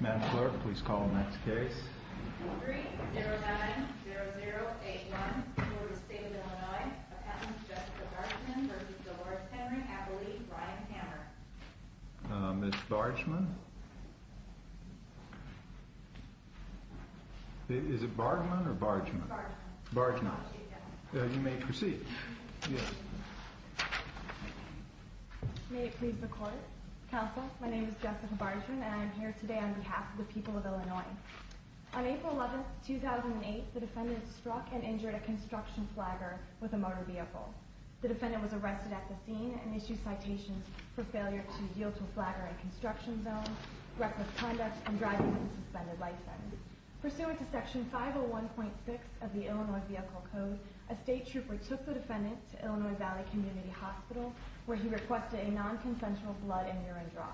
Madam Clerk, please call the next case. Ordering 09-0081, Court of the State of Illinois, Appellant Jessica Bargeman v. Dolores Henry, Appellee Brian Hammer. Ms. Bargeman? Is it Bargeman or Bargeman? Bargeman. Bargeman. You may proceed. May it please the Court. Counsel, my name is Jessica Bargeman and I am here today on behalf of the people of Illinois. On April 11, 2008, the defendant struck and injured a construction flagger with a motor vehicle. The defendant was arrested at the scene and issued citations for failure to yield to a flagger in a construction zone, reckless conduct, and driving with a suspended license. Pursuant to Section 501.6 of the Illinois Vehicle Code, a state trooper took the defendant to Illinois Valley Community Hospital where he requested a non-consensual blood and urine draw.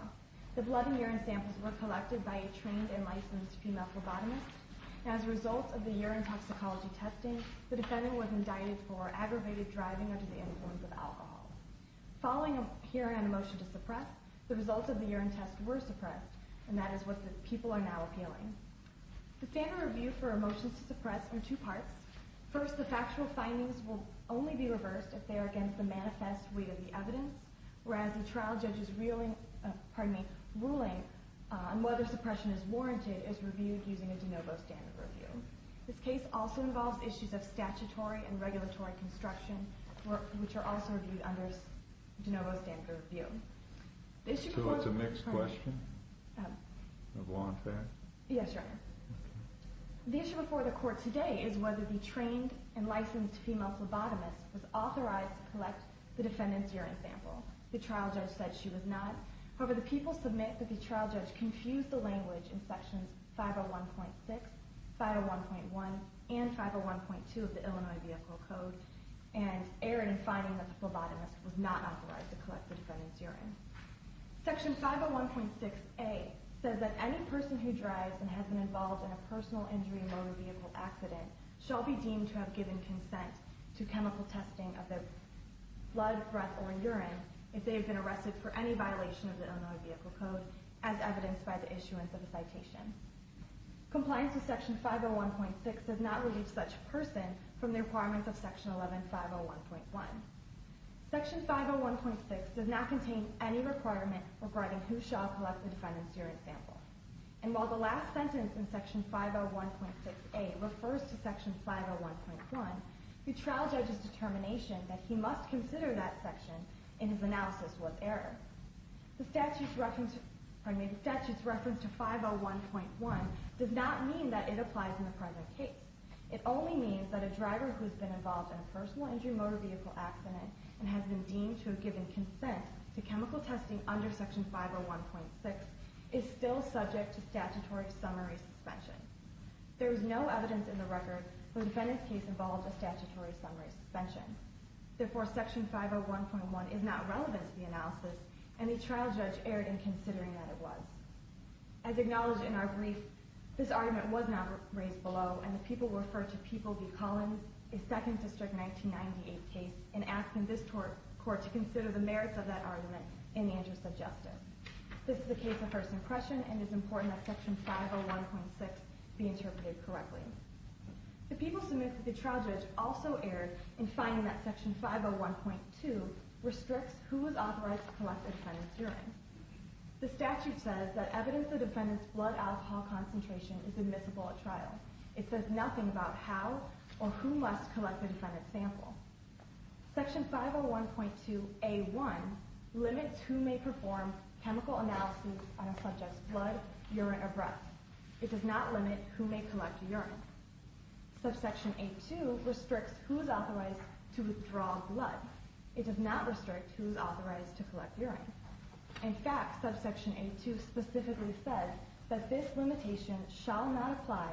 The blood and urine samples were collected by a trained and licensed female phlebotomist. As a result of the urine toxicology testing, the defendant was indicted for aggravated driving under the influence of alcohol. Following a hearing on a motion to suppress, the results of the urine test were suppressed, and that is what the people are now appealing. The standard review for a motion to suppress in two parts. First, the factual findings will only be reversed if they are against the manifest weight of the evidence, whereas the trial judge's ruling on whether suppression is warranted is reviewed using a de novo standard review. This case also involves issues of statutory and regulatory construction, which are also reviewed under de novo standard review. So it's a mixed question of law and fact? Yes, Your Honor. The issue before the court today is whether the trained and licensed female phlebotomist was authorized to collect the defendant's urine sample. The trial judge said she was not. However, the people submit that the trial judge confused the language in Sections 501.6, 501.1, and 501.2 of the Illinois Vehicle Code, and erred in finding that the phlebotomist was not authorized to collect the defendant's urine. Section 501.6a says that any person who drives and has been involved in a personal injury motor vehicle accident shall be deemed to have given consent to chemical testing of their blood, breath, or urine if they have been arrested for any violation of the Illinois Vehicle Code, Compliance with Section 501.6 does not relieve such a person from the requirements of Section 11501.1. Section 501.6 does not contain any requirement regarding who shall collect the defendant's urine sample. And while the last sentence in Section 501.6a refers to Section 501.1, the trial judge's determination that he must consider that section in his analysis was errored. The statute's reference to 501.1 does not mean that it applies in the present case. It only means that a driver who has been involved in a personal injury motor vehicle accident and has been deemed to have given consent to chemical testing under Section 501.6 is still subject to statutory summary suspension. There is no evidence in the record where the defendant's case involves a statutory summary suspension. Therefore, Section 501.1 is not relevant to the analysis, and the trial judge erred in considering that it was. As acknowledged in our brief, this argument was not raised below, and the people referred to People v. Collins, a 2nd District 1998 case, in asking this court to consider the merits of that argument in the interest of justice. This is a case of first impression, and it is important that Section 501.6 be interpreted correctly. The people submit that the trial judge also erred in finding that Section 501.2 restricts who is authorized to collect the defendant's urine. The statute says that evidence of the defendant's blood alcohol concentration is admissible at trial. It says nothing about how or who must collect the defendant's sample. Section 501.2a.1 limits who may perform chemical analysis on a subject's blood, urine, or breath. It does not limit who may collect urine. Subsection a.2 restricts who is authorized to withdraw blood. It does not restrict who is authorized to collect urine. In fact, Subsection a.2 specifically says that this limitation shall not apply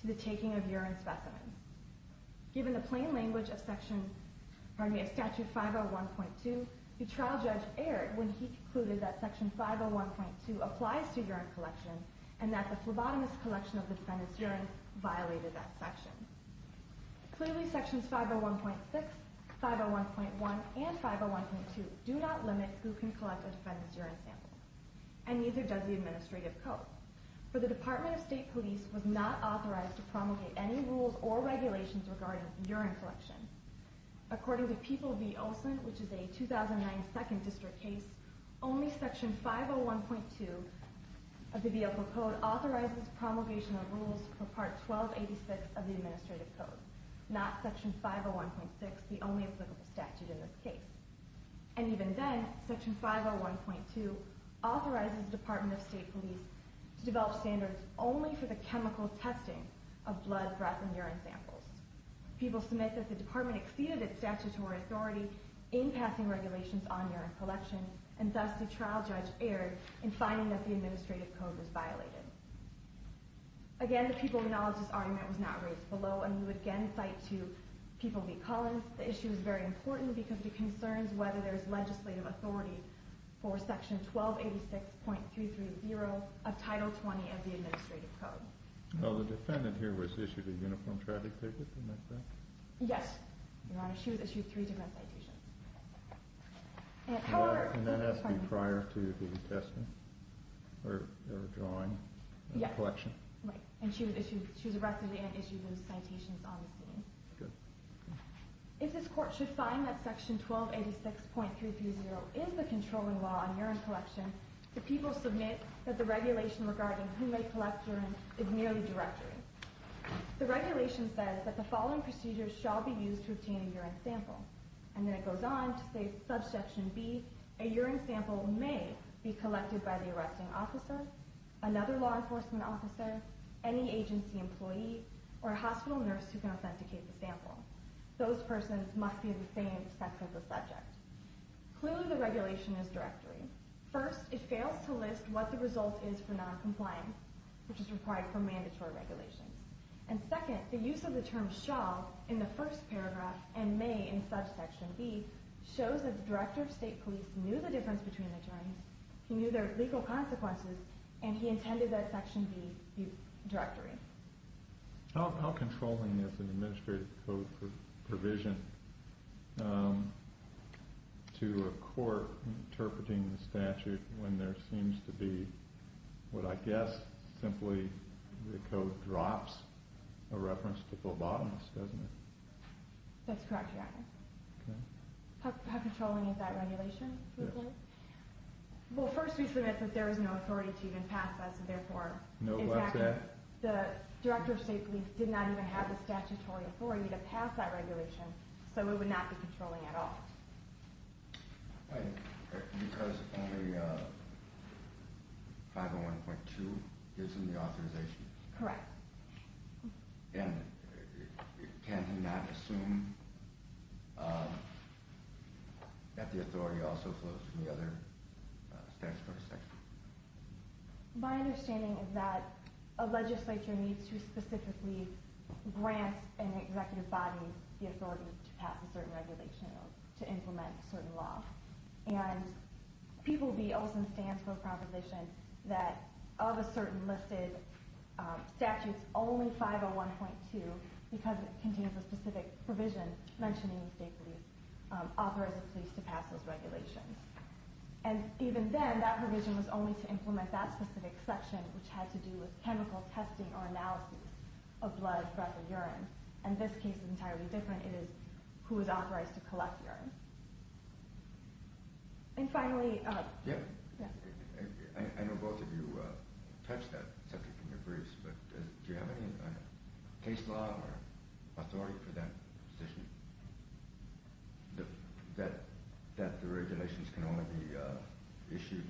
to the taking of urine specimens. Given the plain language of Statute 501.2, the trial judge erred when he concluded that Section 501.2 applies to urine collection and that the phlebotomist's collection of the defendant's urine violated that section. Clearly, Sections 501.6, 501.1, and 501.2 do not limit who can collect a defendant's urine sample, and neither does the administrative code, for the Department of State Police was not authorized to promulgate any rules or regulations regarding urine collection. According to People v. Olson, which is a 2009 Second District case, only Section 501.2 of the vehicle code authorizes promulgation of rules for Part 1286 of the administrative code, not Section 501.6, the only applicable statute in this case. And even then, Section 501.2 authorizes the Department of State Police to develop standards only for the chemical testing of blood, breath, and urine samples. People submit that the Department exceeded its statutory authority in passing regulations on urine collection, and thus the trial judge erred in finding that the administrative code was violated. Again, the People acknowledge this argument was not raised below, and we would again cite to People v. Collins, the issue is very important because it concerns whether there is legislative authority for Section 1286.330 of Title 20 of the administrative code. Well, the defendant here was issued a uniform traffic ticket, am I correct? Yes, Your Honor, she was issued three different citations. And that has to be prior to the attestment, or drawing, or collection? Yes, right, and she was arrested and issued those citations on the scene. Good. If this Court should find that Section 1286.330 is the controlling law on urine collection, the People submit that the regulation regarding who may collect urine is merely directory. The regulation says that the following procedures shall be used to obtain a urine sample. And then it goes on to say, subsection b, a urine sample may be collected by the arresting officer, another law enforcement officer, any agency employee, or a hospital nurse who can authenticate the sample. Those persons must be of the same sex as the subject. Clearly, the regulation is directory. First, it fails to list what the result is for noncompliance, which is required for mandatory regulations. And second, the use of the term shall in the first paragraph, and may in subsection b, shows that the Director of State Police knew the difference between the terms, he knew their legal consequences, and he intended that section b be directory. How controlling is an administrative code for provision to a court interpreting the statute when there seems to be what I guess simply the code drops a reference to phlebotomists, doesn't it? That's correct, Your Honor. How controlling is that regulation? Well, first we submit that there is no authority to even pass that, and therefore, in fact, the Director of State Police did not even have the statutory authority to pass that regulation, so it would not be controlling at all. Because only 501.2 gives him the authorization? Correct. And can he not assume that the authority also flows from the other statutory sections? My understanding is that a legislature needs to specifically grant an executive body the authority to pass a certain regulation or to implement a certain law. And people will be also in stance for a proposition that of a certain listed statute, only 501.2, because it contains a specific provision mentioning the State Police, authorizes the police to pass those regulations. And even then, that provision was only to implement that specific section, which had to do with chemical testing or analysis of blood, breath, or urine. And this case is entirely different. It is who is authorized to collect urine. And finally... I know both of you touched that subject in your briefs, but do you have any case law or authority for that position? That the regulations can only be issued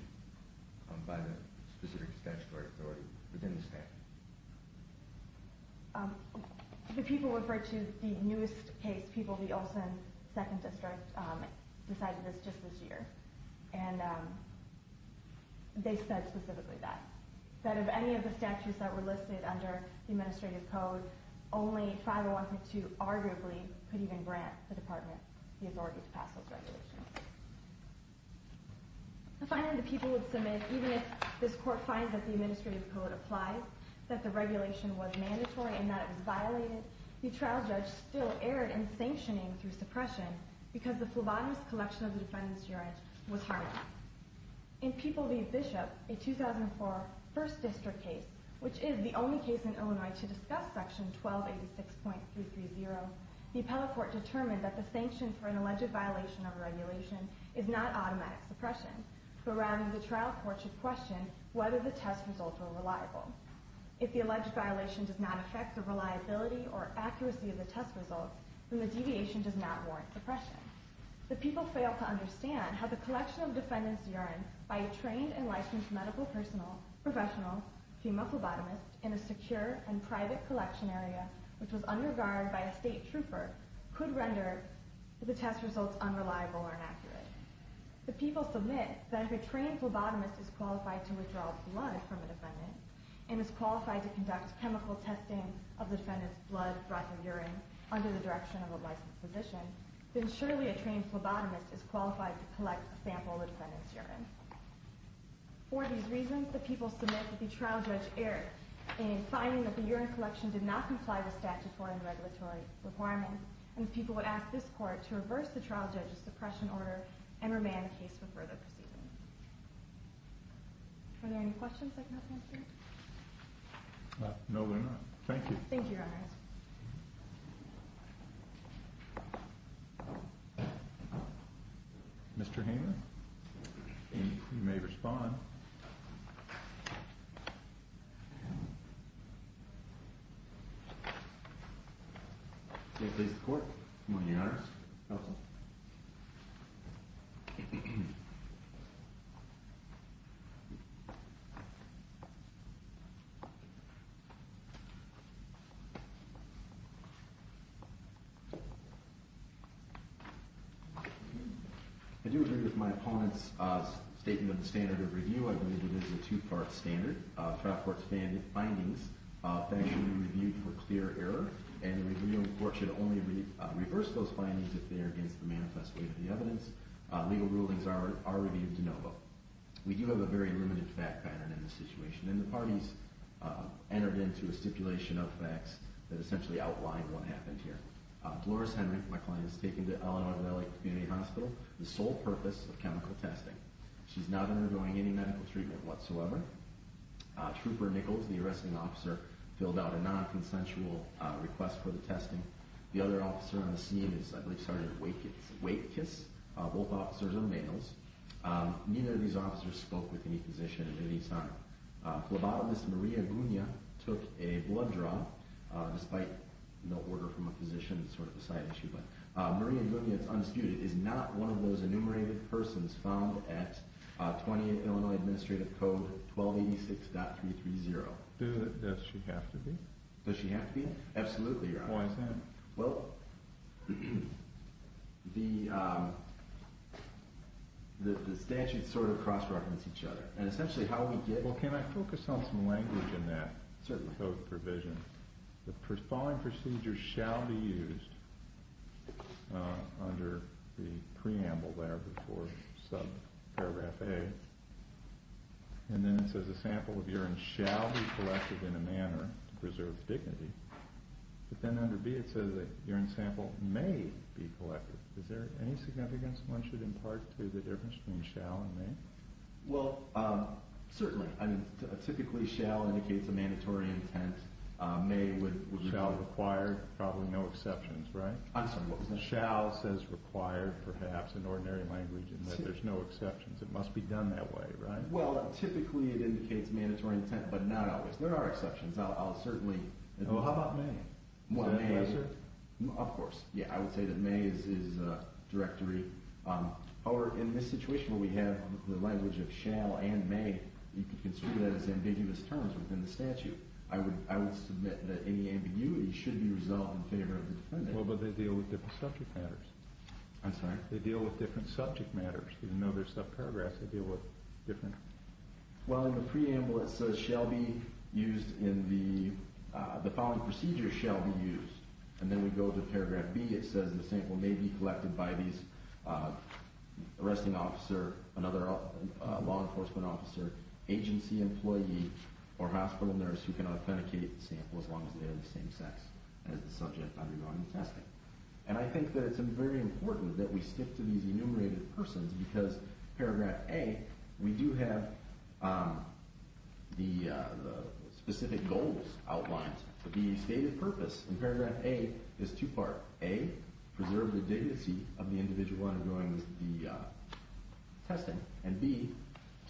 by the specific statutory authority within the statute? The people referred to the newest case, people of the Olson 2nd District decided this just this year. And they said specifically that. That of any of the statutes that were listed under the administrative code, only 501.2 arguably could even grant the department the authority to pass those regulations. And finally, the people would submit, even if this court finds that the administrative code applies, that the regulation was mandatory and that it was violated, the trial judge still erred in sanctioning through suppression because the phlebotomist collection of the defendant's urine was harmless. In People v. Bishop, a 2004 1st District case, which is the only case in Illinois to discuss section 1286.330, the appellate court determined that the sanction for an alleged violation of regulation is not automatic suppression, but rather the trial court should question whether the test results were reliable. If the alleged violation does not affect the reliability or accuracy of the test results, then the deviation does not warrant suppression. by a trained and licensed medical professional, female phlebotomist, in a secure and private collection area, which was under guard by a state trooper, could render the test results unreliable or inaccurate. The people submit that if a trained phlebotomist is qualified to withdraw blood from a defendant and is qualified to conduct chemical testing of the defendant's blood, breath and urine under the direction of a licensed physician, then surely a trained phlebotomist is qualified to collect a sample of the defendant's urine. For these reasons, the people submit that the trial judge erred in finding that the urine collection did not comply with statutory and regulatory requirements, and the people would ask this court to reverse the trial judge's suppression order and remand the case for further proceedings. Are there any questions I cannot answer? Thank you, Your Honors. Mr. Hamer? You may respond. May I please the Court? I do agree with my opponent's statement of the standard of review. I believe it is a two-part standard. Trial court's findings, facts should be reviewed for clear error, and the review in court should only reverse those findings if they are against the manifest weight of the evidence. Legal rulings are reviewed de novo. We do have a very limited fact pattern in this situation, and the parties entered into a stipulation of facts that essentially outlined what happened here. Dolores Henrick, my client, is taken to Illinois Valley Community Hospital with the sole purpose of chemical testing. She is not undergoing any medical treatment whatsoever. Trooper Nichols, the arresting officer, filled out a non-consensual request for the testing. The other officer on the scene is, I believe, Sergeant Wakekiss. Both officers are males. Neither of these officers spoke with any physician at any time. Phlebotomist Maria Gugna took a blood draw, despite no order from a physician. It's sort of a side issue, but Maria Gugna, it's undisputed, is not one of those enumerated persons found at 28 Illinois Administrative Code 1286.330. Does she have to be? Does she have to be? Absolutely, Your Honor. Why is that? Well, the statutes sort of cross-reference each other, Well, can I focus on some language in that code provision? The following procedure shall be used under the preamble there before subparagraph A, and then it says a sample of urine shall be collected in a manner to preserve dignity, but then under B it says a urine sample may be collected. Is there any significance one should impart to the difference between shall and may? Well, certainly. I mean, typically shall indicates a mandatory intent. May would require probably no exceptions, right? I'm sorry, what was that? Shall says required, perhaps, in ordinary language in that there's no exceptions. It must be done that way, right? Well, typically it indicates mandatory intent, but not always. There are exceptions. I'll certainly, Well, how about may? May, of course. Yeah, I would say that may is directory. However, in this situation where we have the language of shall and may, you can consider that as ambiguous terms within the statute. I would submit that any ambiguity should be resolved in favor of the defendant. Well, but they deal with different subject matters. I'm sorry? They deal with different subject matters. Even though they're subparagraphs, they deal with different, Well, in the preamble it says shall be used in the, the following procedure shall be used, and then we go to paragraph B. It says the sample may be collected by these arresting officer, another law enforcement officer, agency employee, or hospital nurse who can authenticate the sample as long as they are the same sex as the subject undergoing the testing. And I think that it's very important that we stick to these enumerated persons because paragraph A, we do have the specific goals outlined. The stated purpose in paragraph A is two-part. A, preserve the dignity of the individual undergoing the testing, and B,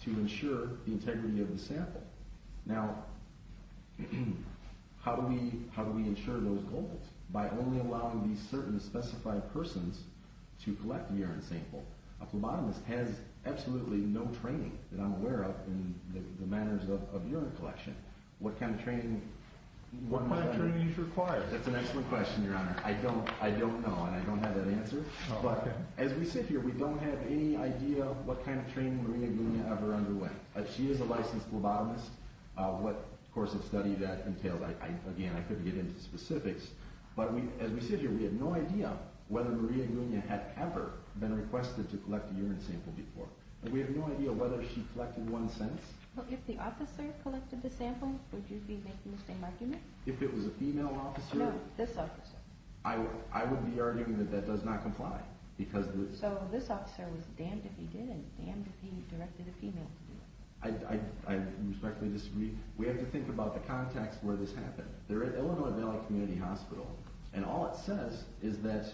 to ensure the integrity of the sample. Now, how do we ensure those goals? By only allowing these certain specified persons to collect the urine sample. A phlebotomist has absolutely no training that I'm aware of in the manners of urine collection. What kind of training? What kind of training is required? That's an excellent question, Your Honor. I don't know, and I don't have that answer. But as we sit here, we don't have any idea what kind of training Maria Gugna ever underwent. She is a licensed phlebotomist. What course of study that entails, again, I couldn't get into specifics. But as we sit here, we have no idea whether Maria Gugna had ever been requested to collect a urine sample before. And we have no idea whether she collected one since. Well, if the officer collected the sample, would you be making the same argument? If it was a female officer? No, this officer. I would be arguing that that does not comply. So this officer was damned if he did, and damned if he directed a female to do it. I respectfully disagree. We have to think about the context where this happened. They're at Illinois Valley Community Hospital, and all it says is that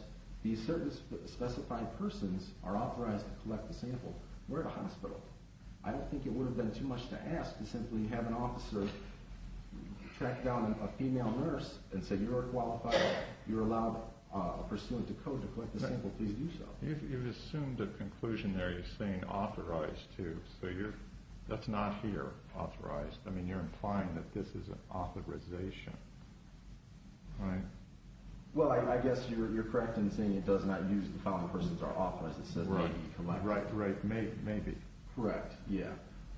these certain specified persons are authorized to collect the sample. We're at a hospital. I don't think it would have been too much to ask to simply have an officer track down a female nurse and say, you're a qualified, you're allowed a pursuant to code to collect the sample. Please do so. You assumed a conclusion there. You're saying authorized to. So that's not here, authorized. I mean, you're implying that this is an authorization, right? Well, I guess you're correct in saying it does not use the following persons are authorized. It says they need to collect. Right, right. Maybe. Correct, yeah.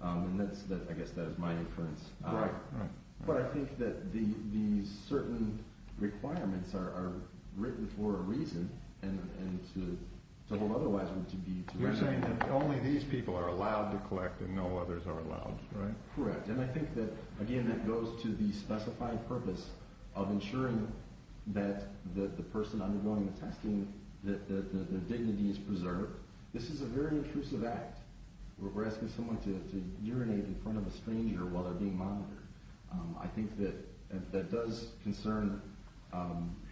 And I guess that is my inference. Right, right. But I think that these certain requirements are written for a reason and to hold otherwise would be to render. You're saying that only these people are allowed to collect and no others are allowed, right? Correct. And I think that, again, that goes to the specified purpose of ensuring that the person undergoing the testing, that their dignity is preserved. This is a very intrusive act where we're asking someone to urinate in front of a stranger while they're being monitored. I think that that does concern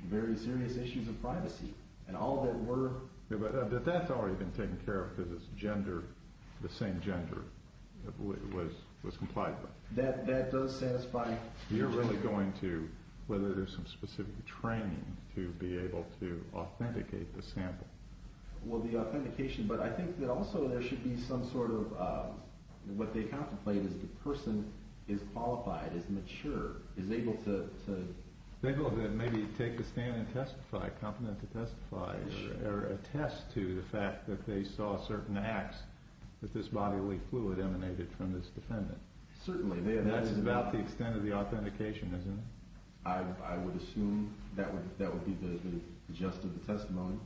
very serious issues of privacy and all that we're... But that's already been taken care of because it's gender, the same gender was complied by. That does satisfy... You're really going to, whether there's some specific training to be able to authenticate the sample. Well, the authentication... But I think that also there should be some sort of... What they contemplate is the person is qualified, is mature, is able to... They go to maybe take a stand and testify, competent to testify or attest to the fact that they saw certain acts that this bodily fluid emanated from this defendant. Certainly. That's about the extent of the authentication, isn't it? I would assume that would be the gist of the testimony.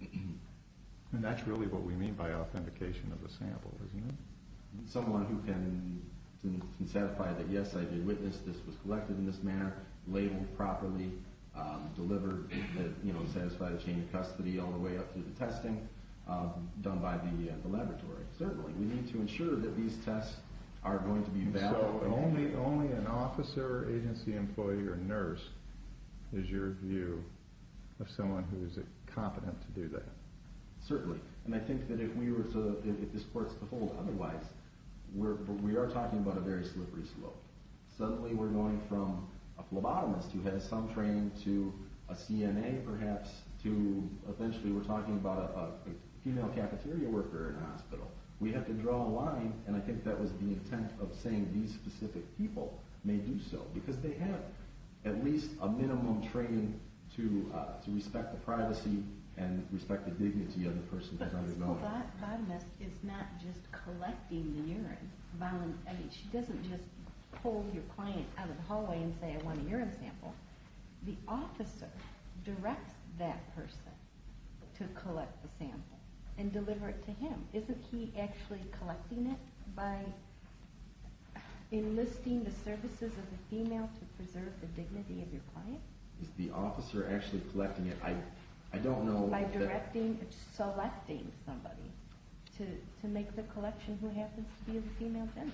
And that's really what we mean by authentication of the sample, isn't it? Someone who can satisfy that, yes, I did witness, this was collected in this manner, labeled properly, delivered, satisfied a chain of custody, all the way up to the testing done by the laboratory. Certainly. We need to ensure that these tests are going to be valid. So only an officer, agency employee, or nurse is your view of someone who is competent to do that? Certainly. And I think that if we were to, if this were to hold otherwise, we are talking about a very slippery slope. Suddenly we're going from a phlebotomist who has some training to a CNA, perhaps, we have to draw a line, and I think that was the intent of saying these specific people may do so, because they have at least a minimum training to respect the privacy and respect the dignity of the person. But a phlebotomist is not just collecting the urine. She doesn't just pull your client out of the hallway and say, I want a urine sample. The officer directs that person to collect the sample and deliver it to him. Isn't he actually collecting it by enlisting the services of the female to preserve the dignity of your client? Is the officer actually collecting it? I don't know. By directing, selecting somebody to make the collection who happens to be a female gender.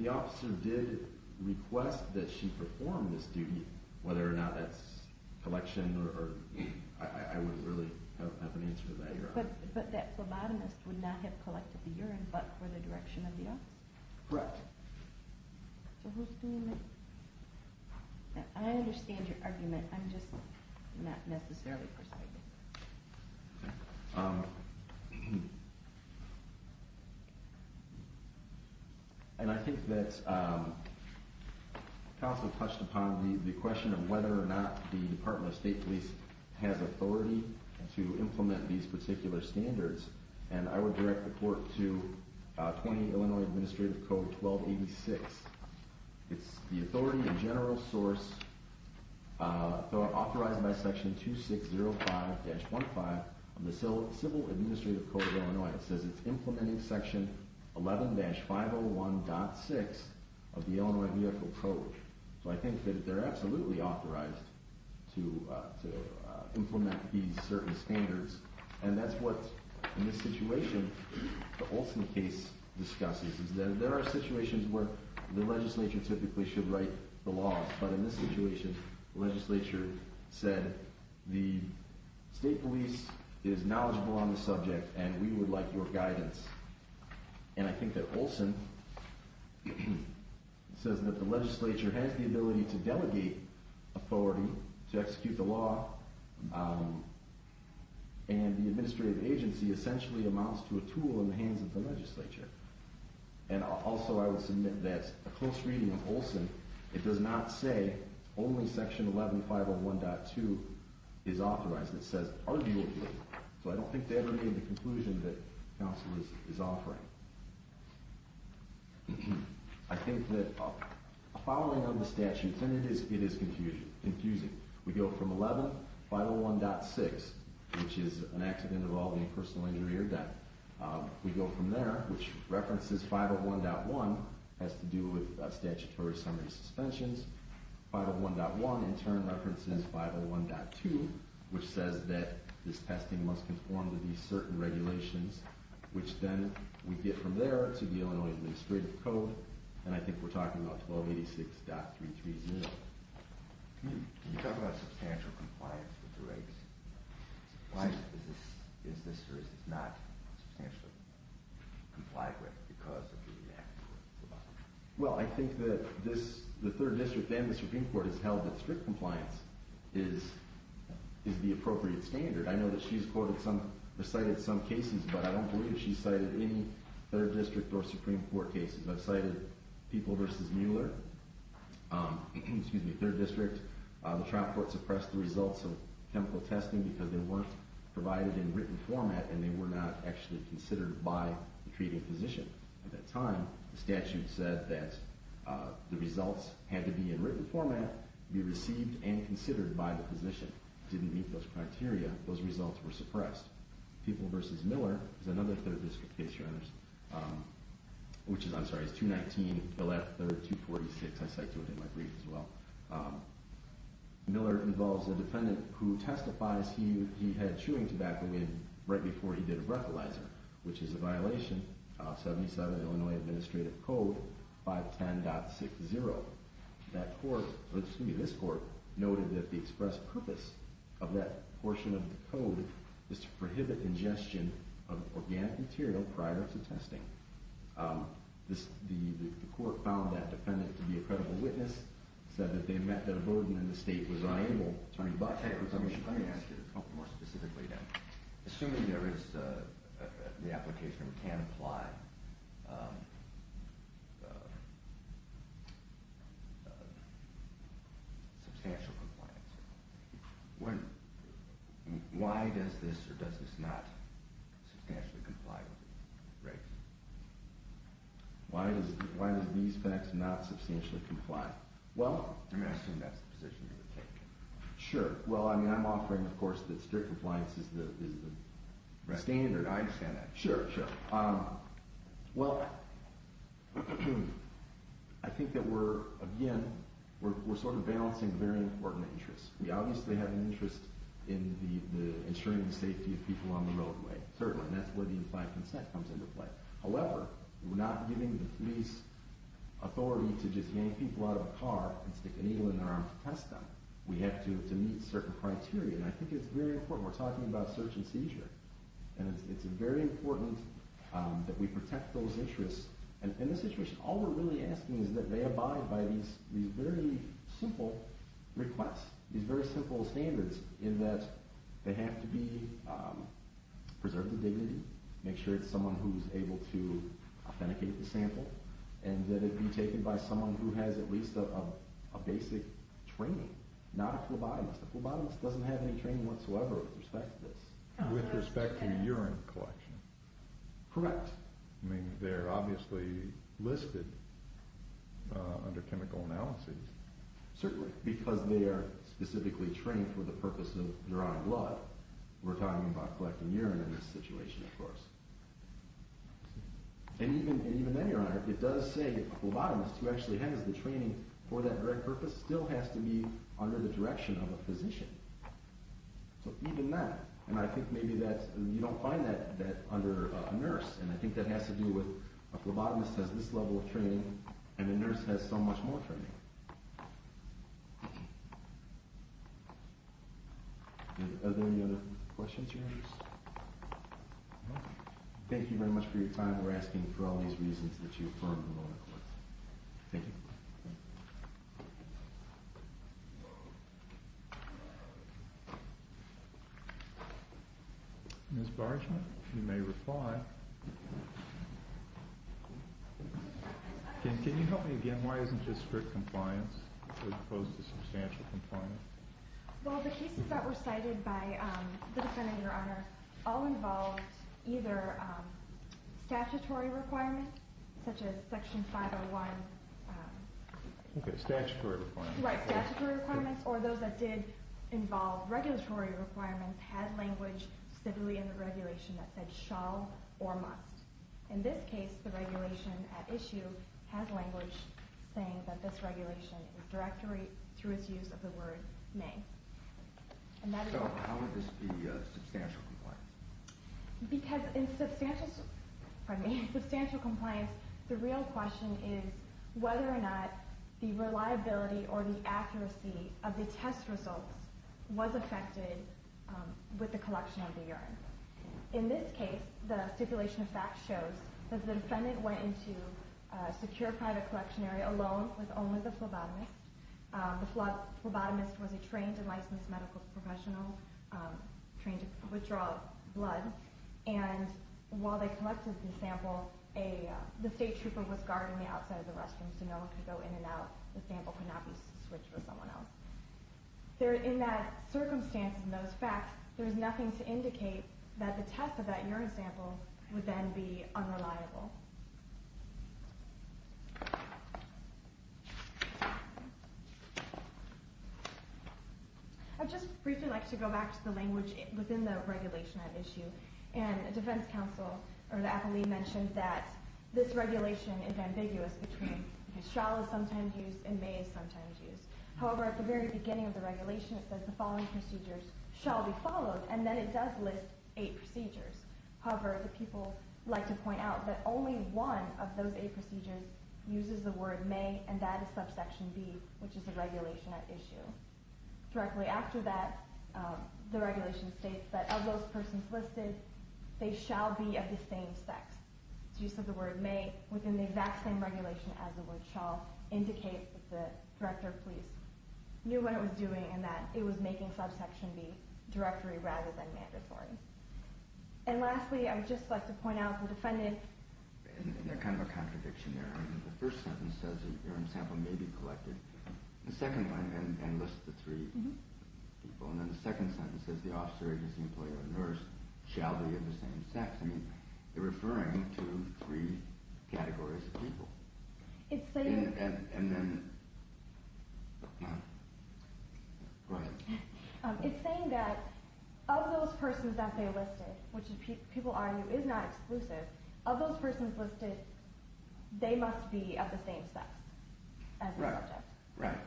The officer did request that she perform this duty, whether or not that's collection or, I wouldn't really have an answer to that. But that phlebotomist would not have collected the urine but for the direction of the officer? Correct. So who's doing that? I understand your argument. I'm just not necessarily persuaded. And I think that counsel touched upon the question of whether or not the Department of State Police has authority to implement these particular standards. And I would direct the court to 20 Illinois Administrative Code 1286. It's the authority and general source authorized by Section 2605-15 of the Civil Administrative Code of Illinois. It says it's implementing Section 11-501.6 of the Illinois Vehicle Code. So I think that they're absolutely authorized to implement these certain standards. And that's what, in this situation, the Olson case discusses. There are situations where the legislature typically should write the law. But in this situation, the legislature said, the State Police is knowledgeable on the subject and we would like your guidance. And I think that Olson says that the legislature has the ability to delegate authority to execute the law, and the administrative agency essentially amounts to a tool in the hands of the legislature. And also I would submit that a close reading of Olson, it does not say only Section 11-501.2 is authorized. It says arguably. So I don't think they ever made the conclusion that counsel is offering. I think that following on the statute, and it is confusing, we go from 11-501.6, which is an accident involving a personal injury or death. We go from there, which references 501.1, has to do with statutory summary suspensions. 501.1 in turn references 501.2, which says that this testing must conform to these certain regulations, which then we get from there to the Illinois Administrative Code. And I think we're talking about 1286.330. Can you talk about substantial compliance with the rates? Is this or is this not substantially complied with because of the act? Well, I think that the 3rd District and the Supreme Court has held that strict compliance is the appropriate standard. I know that she's cited some cases, but I don't believe she's cited any 3rd District or Supreme Court cases. I cited People v. Miller, 3rd District. The trial court suppressed the results of chemical testing because they weren't provided in written format and they were not actually considered by the treating physician. At that time, the statute said that the results had to be in written format, be received, and considered by the physician. It didn't meet those criteria. Those results were suppressed. People v. Miller is another 3rd District case. I'm sorry, it's 219-113-246. I cited it in my brief as well. Miller involves a defendant who testifies he had chewing tobacco right before he did a breathalyzer, which is a violation of 77 Illinois Administrative Code 510.60. This court noted that the express purpose of that portion of the code is to prohibit ingestion of organic material prior to testing. The court found that defendant to be a credible witness, said that they met the burden and the state was unable to turn it back. Let me ask you something more specifically then. Assuming there is the application and it can apply, substantial compliance, why does this or does this not substantially comply? Right. Why does these facts not substantially comply? Well, I'm asking that's the position you would take. Sure. Well, I'm offering, of course, that strict compliance is the standard. I understand that. Sure, sure. Well, I think that we're, again, we're sort of balancing very important interests. We obviously have an interest in ensuring the safety of people on the roadway. Certainly, that's where the implied consent comes into play. However, we're not giving the police authority to just yank people out of a car and stick an eagle in their arm to test them. We have to meet certain criteria, and I think it's very important. We're talking about search and seizure, and it's very important that we protect those interests. In this situation, all we're really asking is that they abide by these very simple requests, these very simple standards, in that they have to be preserved to dignity, make sure it's someone who's able to authenticate the sample, and that it be taken by someone who has at least a basic training, not a phlebotomist. A phlebotomist doesn't have any training whatsoever with respect to this. With respect to urine collection. Correct. I mean, they're obviously listed under chemical analyses. Certainly, because they are specifically trained for the purpose of drawing blood. We're talking about collecting urine in this situation, of course. And even then, Your Honor, it does say that a phlebotomist, who actually has the training for that very purpose, still has to be under the direction of a physician. So even then, and I think maybe that you don't find that under a nurse, and I think that has to do with a phlebotomist has this level of training, and a nurse has so much more training. Are there any other questions, Your Honor? Thank you very much for your time. We're asking for all these reasons that you affirmed in the moment. Thank you. Thank you. Ms. Bargeman, you may reply. Can you help me again? Why isn't this strict compliance as opposed to substantial compliance? Well, the cases that were cited by the defendant, Your Honor, all involved either statutory requirements, such as Section 501. Okay, statutory requirements. Right, statutory requirements. Or those that did involve regulatory requirements had language stipulated in the regulation that said shall or must. In this case, the regulation at issue has language saying that this regulation is directed through its use of the word may. So how would this be substantial compliance? Because in substantial compliance, the real question is whether or not the reliability or the accuracy of the test results was affected with the collection of the urine. In this case, the stipulation of fact shows that the defendant went into a secure private collection area alone with only the phlebotomist. The phlebotomist was a trained and licensed medical professional, trained to withdraw blood. And while they collected the sample, the state trooper was guarding the outside of the restroom so no one could go in and out. The sample could not be switched with someone else. In that circumstance, in those facts, there is nothing to indicate that the test of that urine sample would then be unreliable. I would just briefly like to go back to the language within the regulation at issue. And the defense counsel, or the appellee, mentioned that this regulation is ambiguous between shall is sometimes used and may is sometimes used. However, at the very beginning of the regulation, it says the following procedures shall be followed, and then it does list eight procedures. However, the people like to point out that only the test Only one of those eight procedures uses the word may, and that is subsection B, which is the regulation at issue. Directly after that, the regulation states that of those persons listed, they shall be of the same sex. The use of the word may within the exact same regulation as the word shall indicates that the Director of Police knew what it was doing and that it was making subsection B directory rather than mandatory. And lastly, I would just like to point out the defendant... There's kind of a contradiction there. The first sentence says the urine sample may be collected, the second one, and lists the three people, and then the second sentence says the officer, agency employee, or nurse shall be of the same sex. I mean, they're referring to three categories of people. It's saying... And then... Go ahead. It's saying that of those persons that they listed, which people argue is not exclusive, of those persons listed, they must be of the same sex as the subject. Right,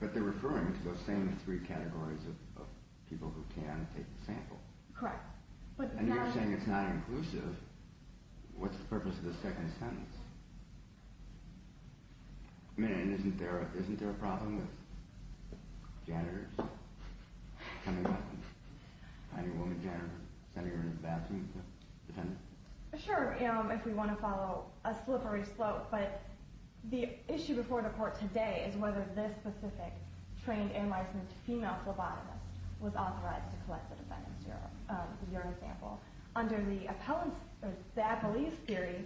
but they're referring to those same three categories of people who can take the sample. Correct. And you're saying it's not inclusive. What's the purpose of the second sentence? I mean, isn't there a problem with janitors coming up and finding a woman janitor, sending her to the bathroom with the defendant? Sure, if we want to follow a slippery slope. But the issue before the court today is whether this specific trained and licensed female phlebotomist was authorized to collect the defendant's urine sample. Under the appellate theory,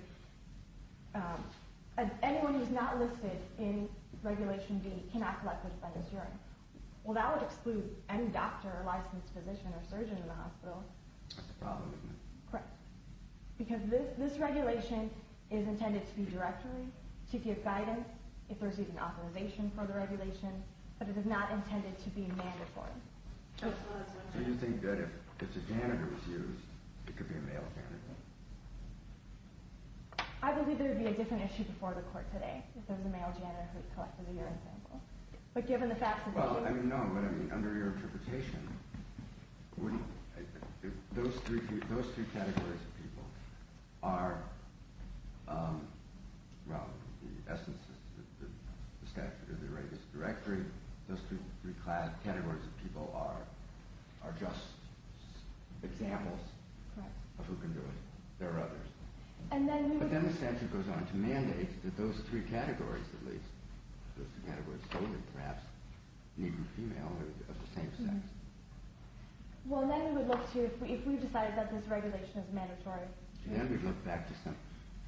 anyone who's not listed in Regulation B cannot collect the defendant's urine. Well, that would exclude any doctor, licensed physician, or surgeon in the hospital. That's a problem, isn't it? Correct. Because this regulation is intended to be directory, to give guidance, if there's even authorization for the regulation, but it is not intended to be mandatory. Do you think that if it's a janitor's use, it could be a male janitor? I believe there would be a different issue before the court today if there was a male janitor who collected the urine sample. But given the facts of the case... Well, I mean, no. But I mean, under your interpretation, those three categories of people are, well, the essence is the statute of the right is directory. Those three categories of people are just examples of who can do it. There are others. But then the statute goes on to mandate that those three categories, at least, those three categories, children, perhaps, and even female, are of the same sex. Well, then we would look to, if we decided that this regulation is mandatory... Then we'd look back to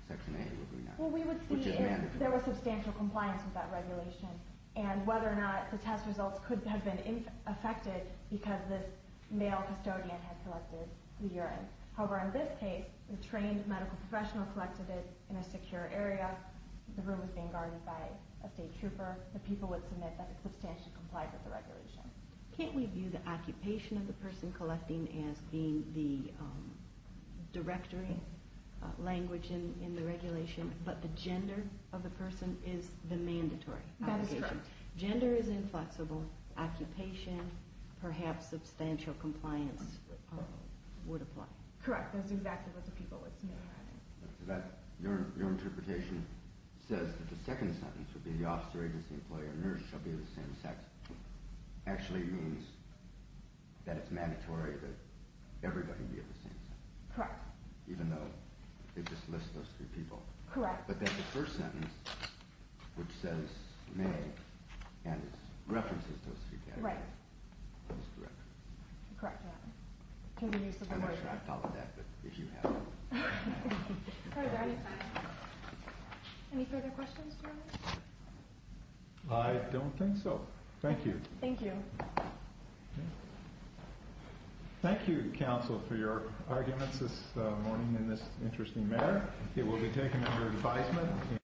Section A, would we not? Well, we would see if there was substantial compliance with that regulation and whether or not the test results could have been affected because this male custodian had collected the urine. However, in this case, the trained medical professional collected it in a secure area. The room was being guarded by a state trooper. The people would submit that it substantially complied with the regulation. Can't we view the occupation of the person collecting as being the directory language in the regulation, but the gender of the person is the mandatory application? That is correct. Gender is inflexible. Occupation, perhaps substantial compliance would apply. Correct. That's exactly what the people would submit. Your interpretation says that the second sentence would be the officer, agency, employee, or nurse shall be of the same sex actually means that it's mandatory that everybody be of the same sex. Correct. Even though it just lists those three people. Correct. But then the first sentence, which says male, and it references those three categories. Right. That is correct. Correct. I'm not sure I've thought of that, but if you have. Any further questions? I don't think so. Thank you. Thank you. Thank you, counsel, for your arguments this morning in this interesting matter. It will be taken under advisement.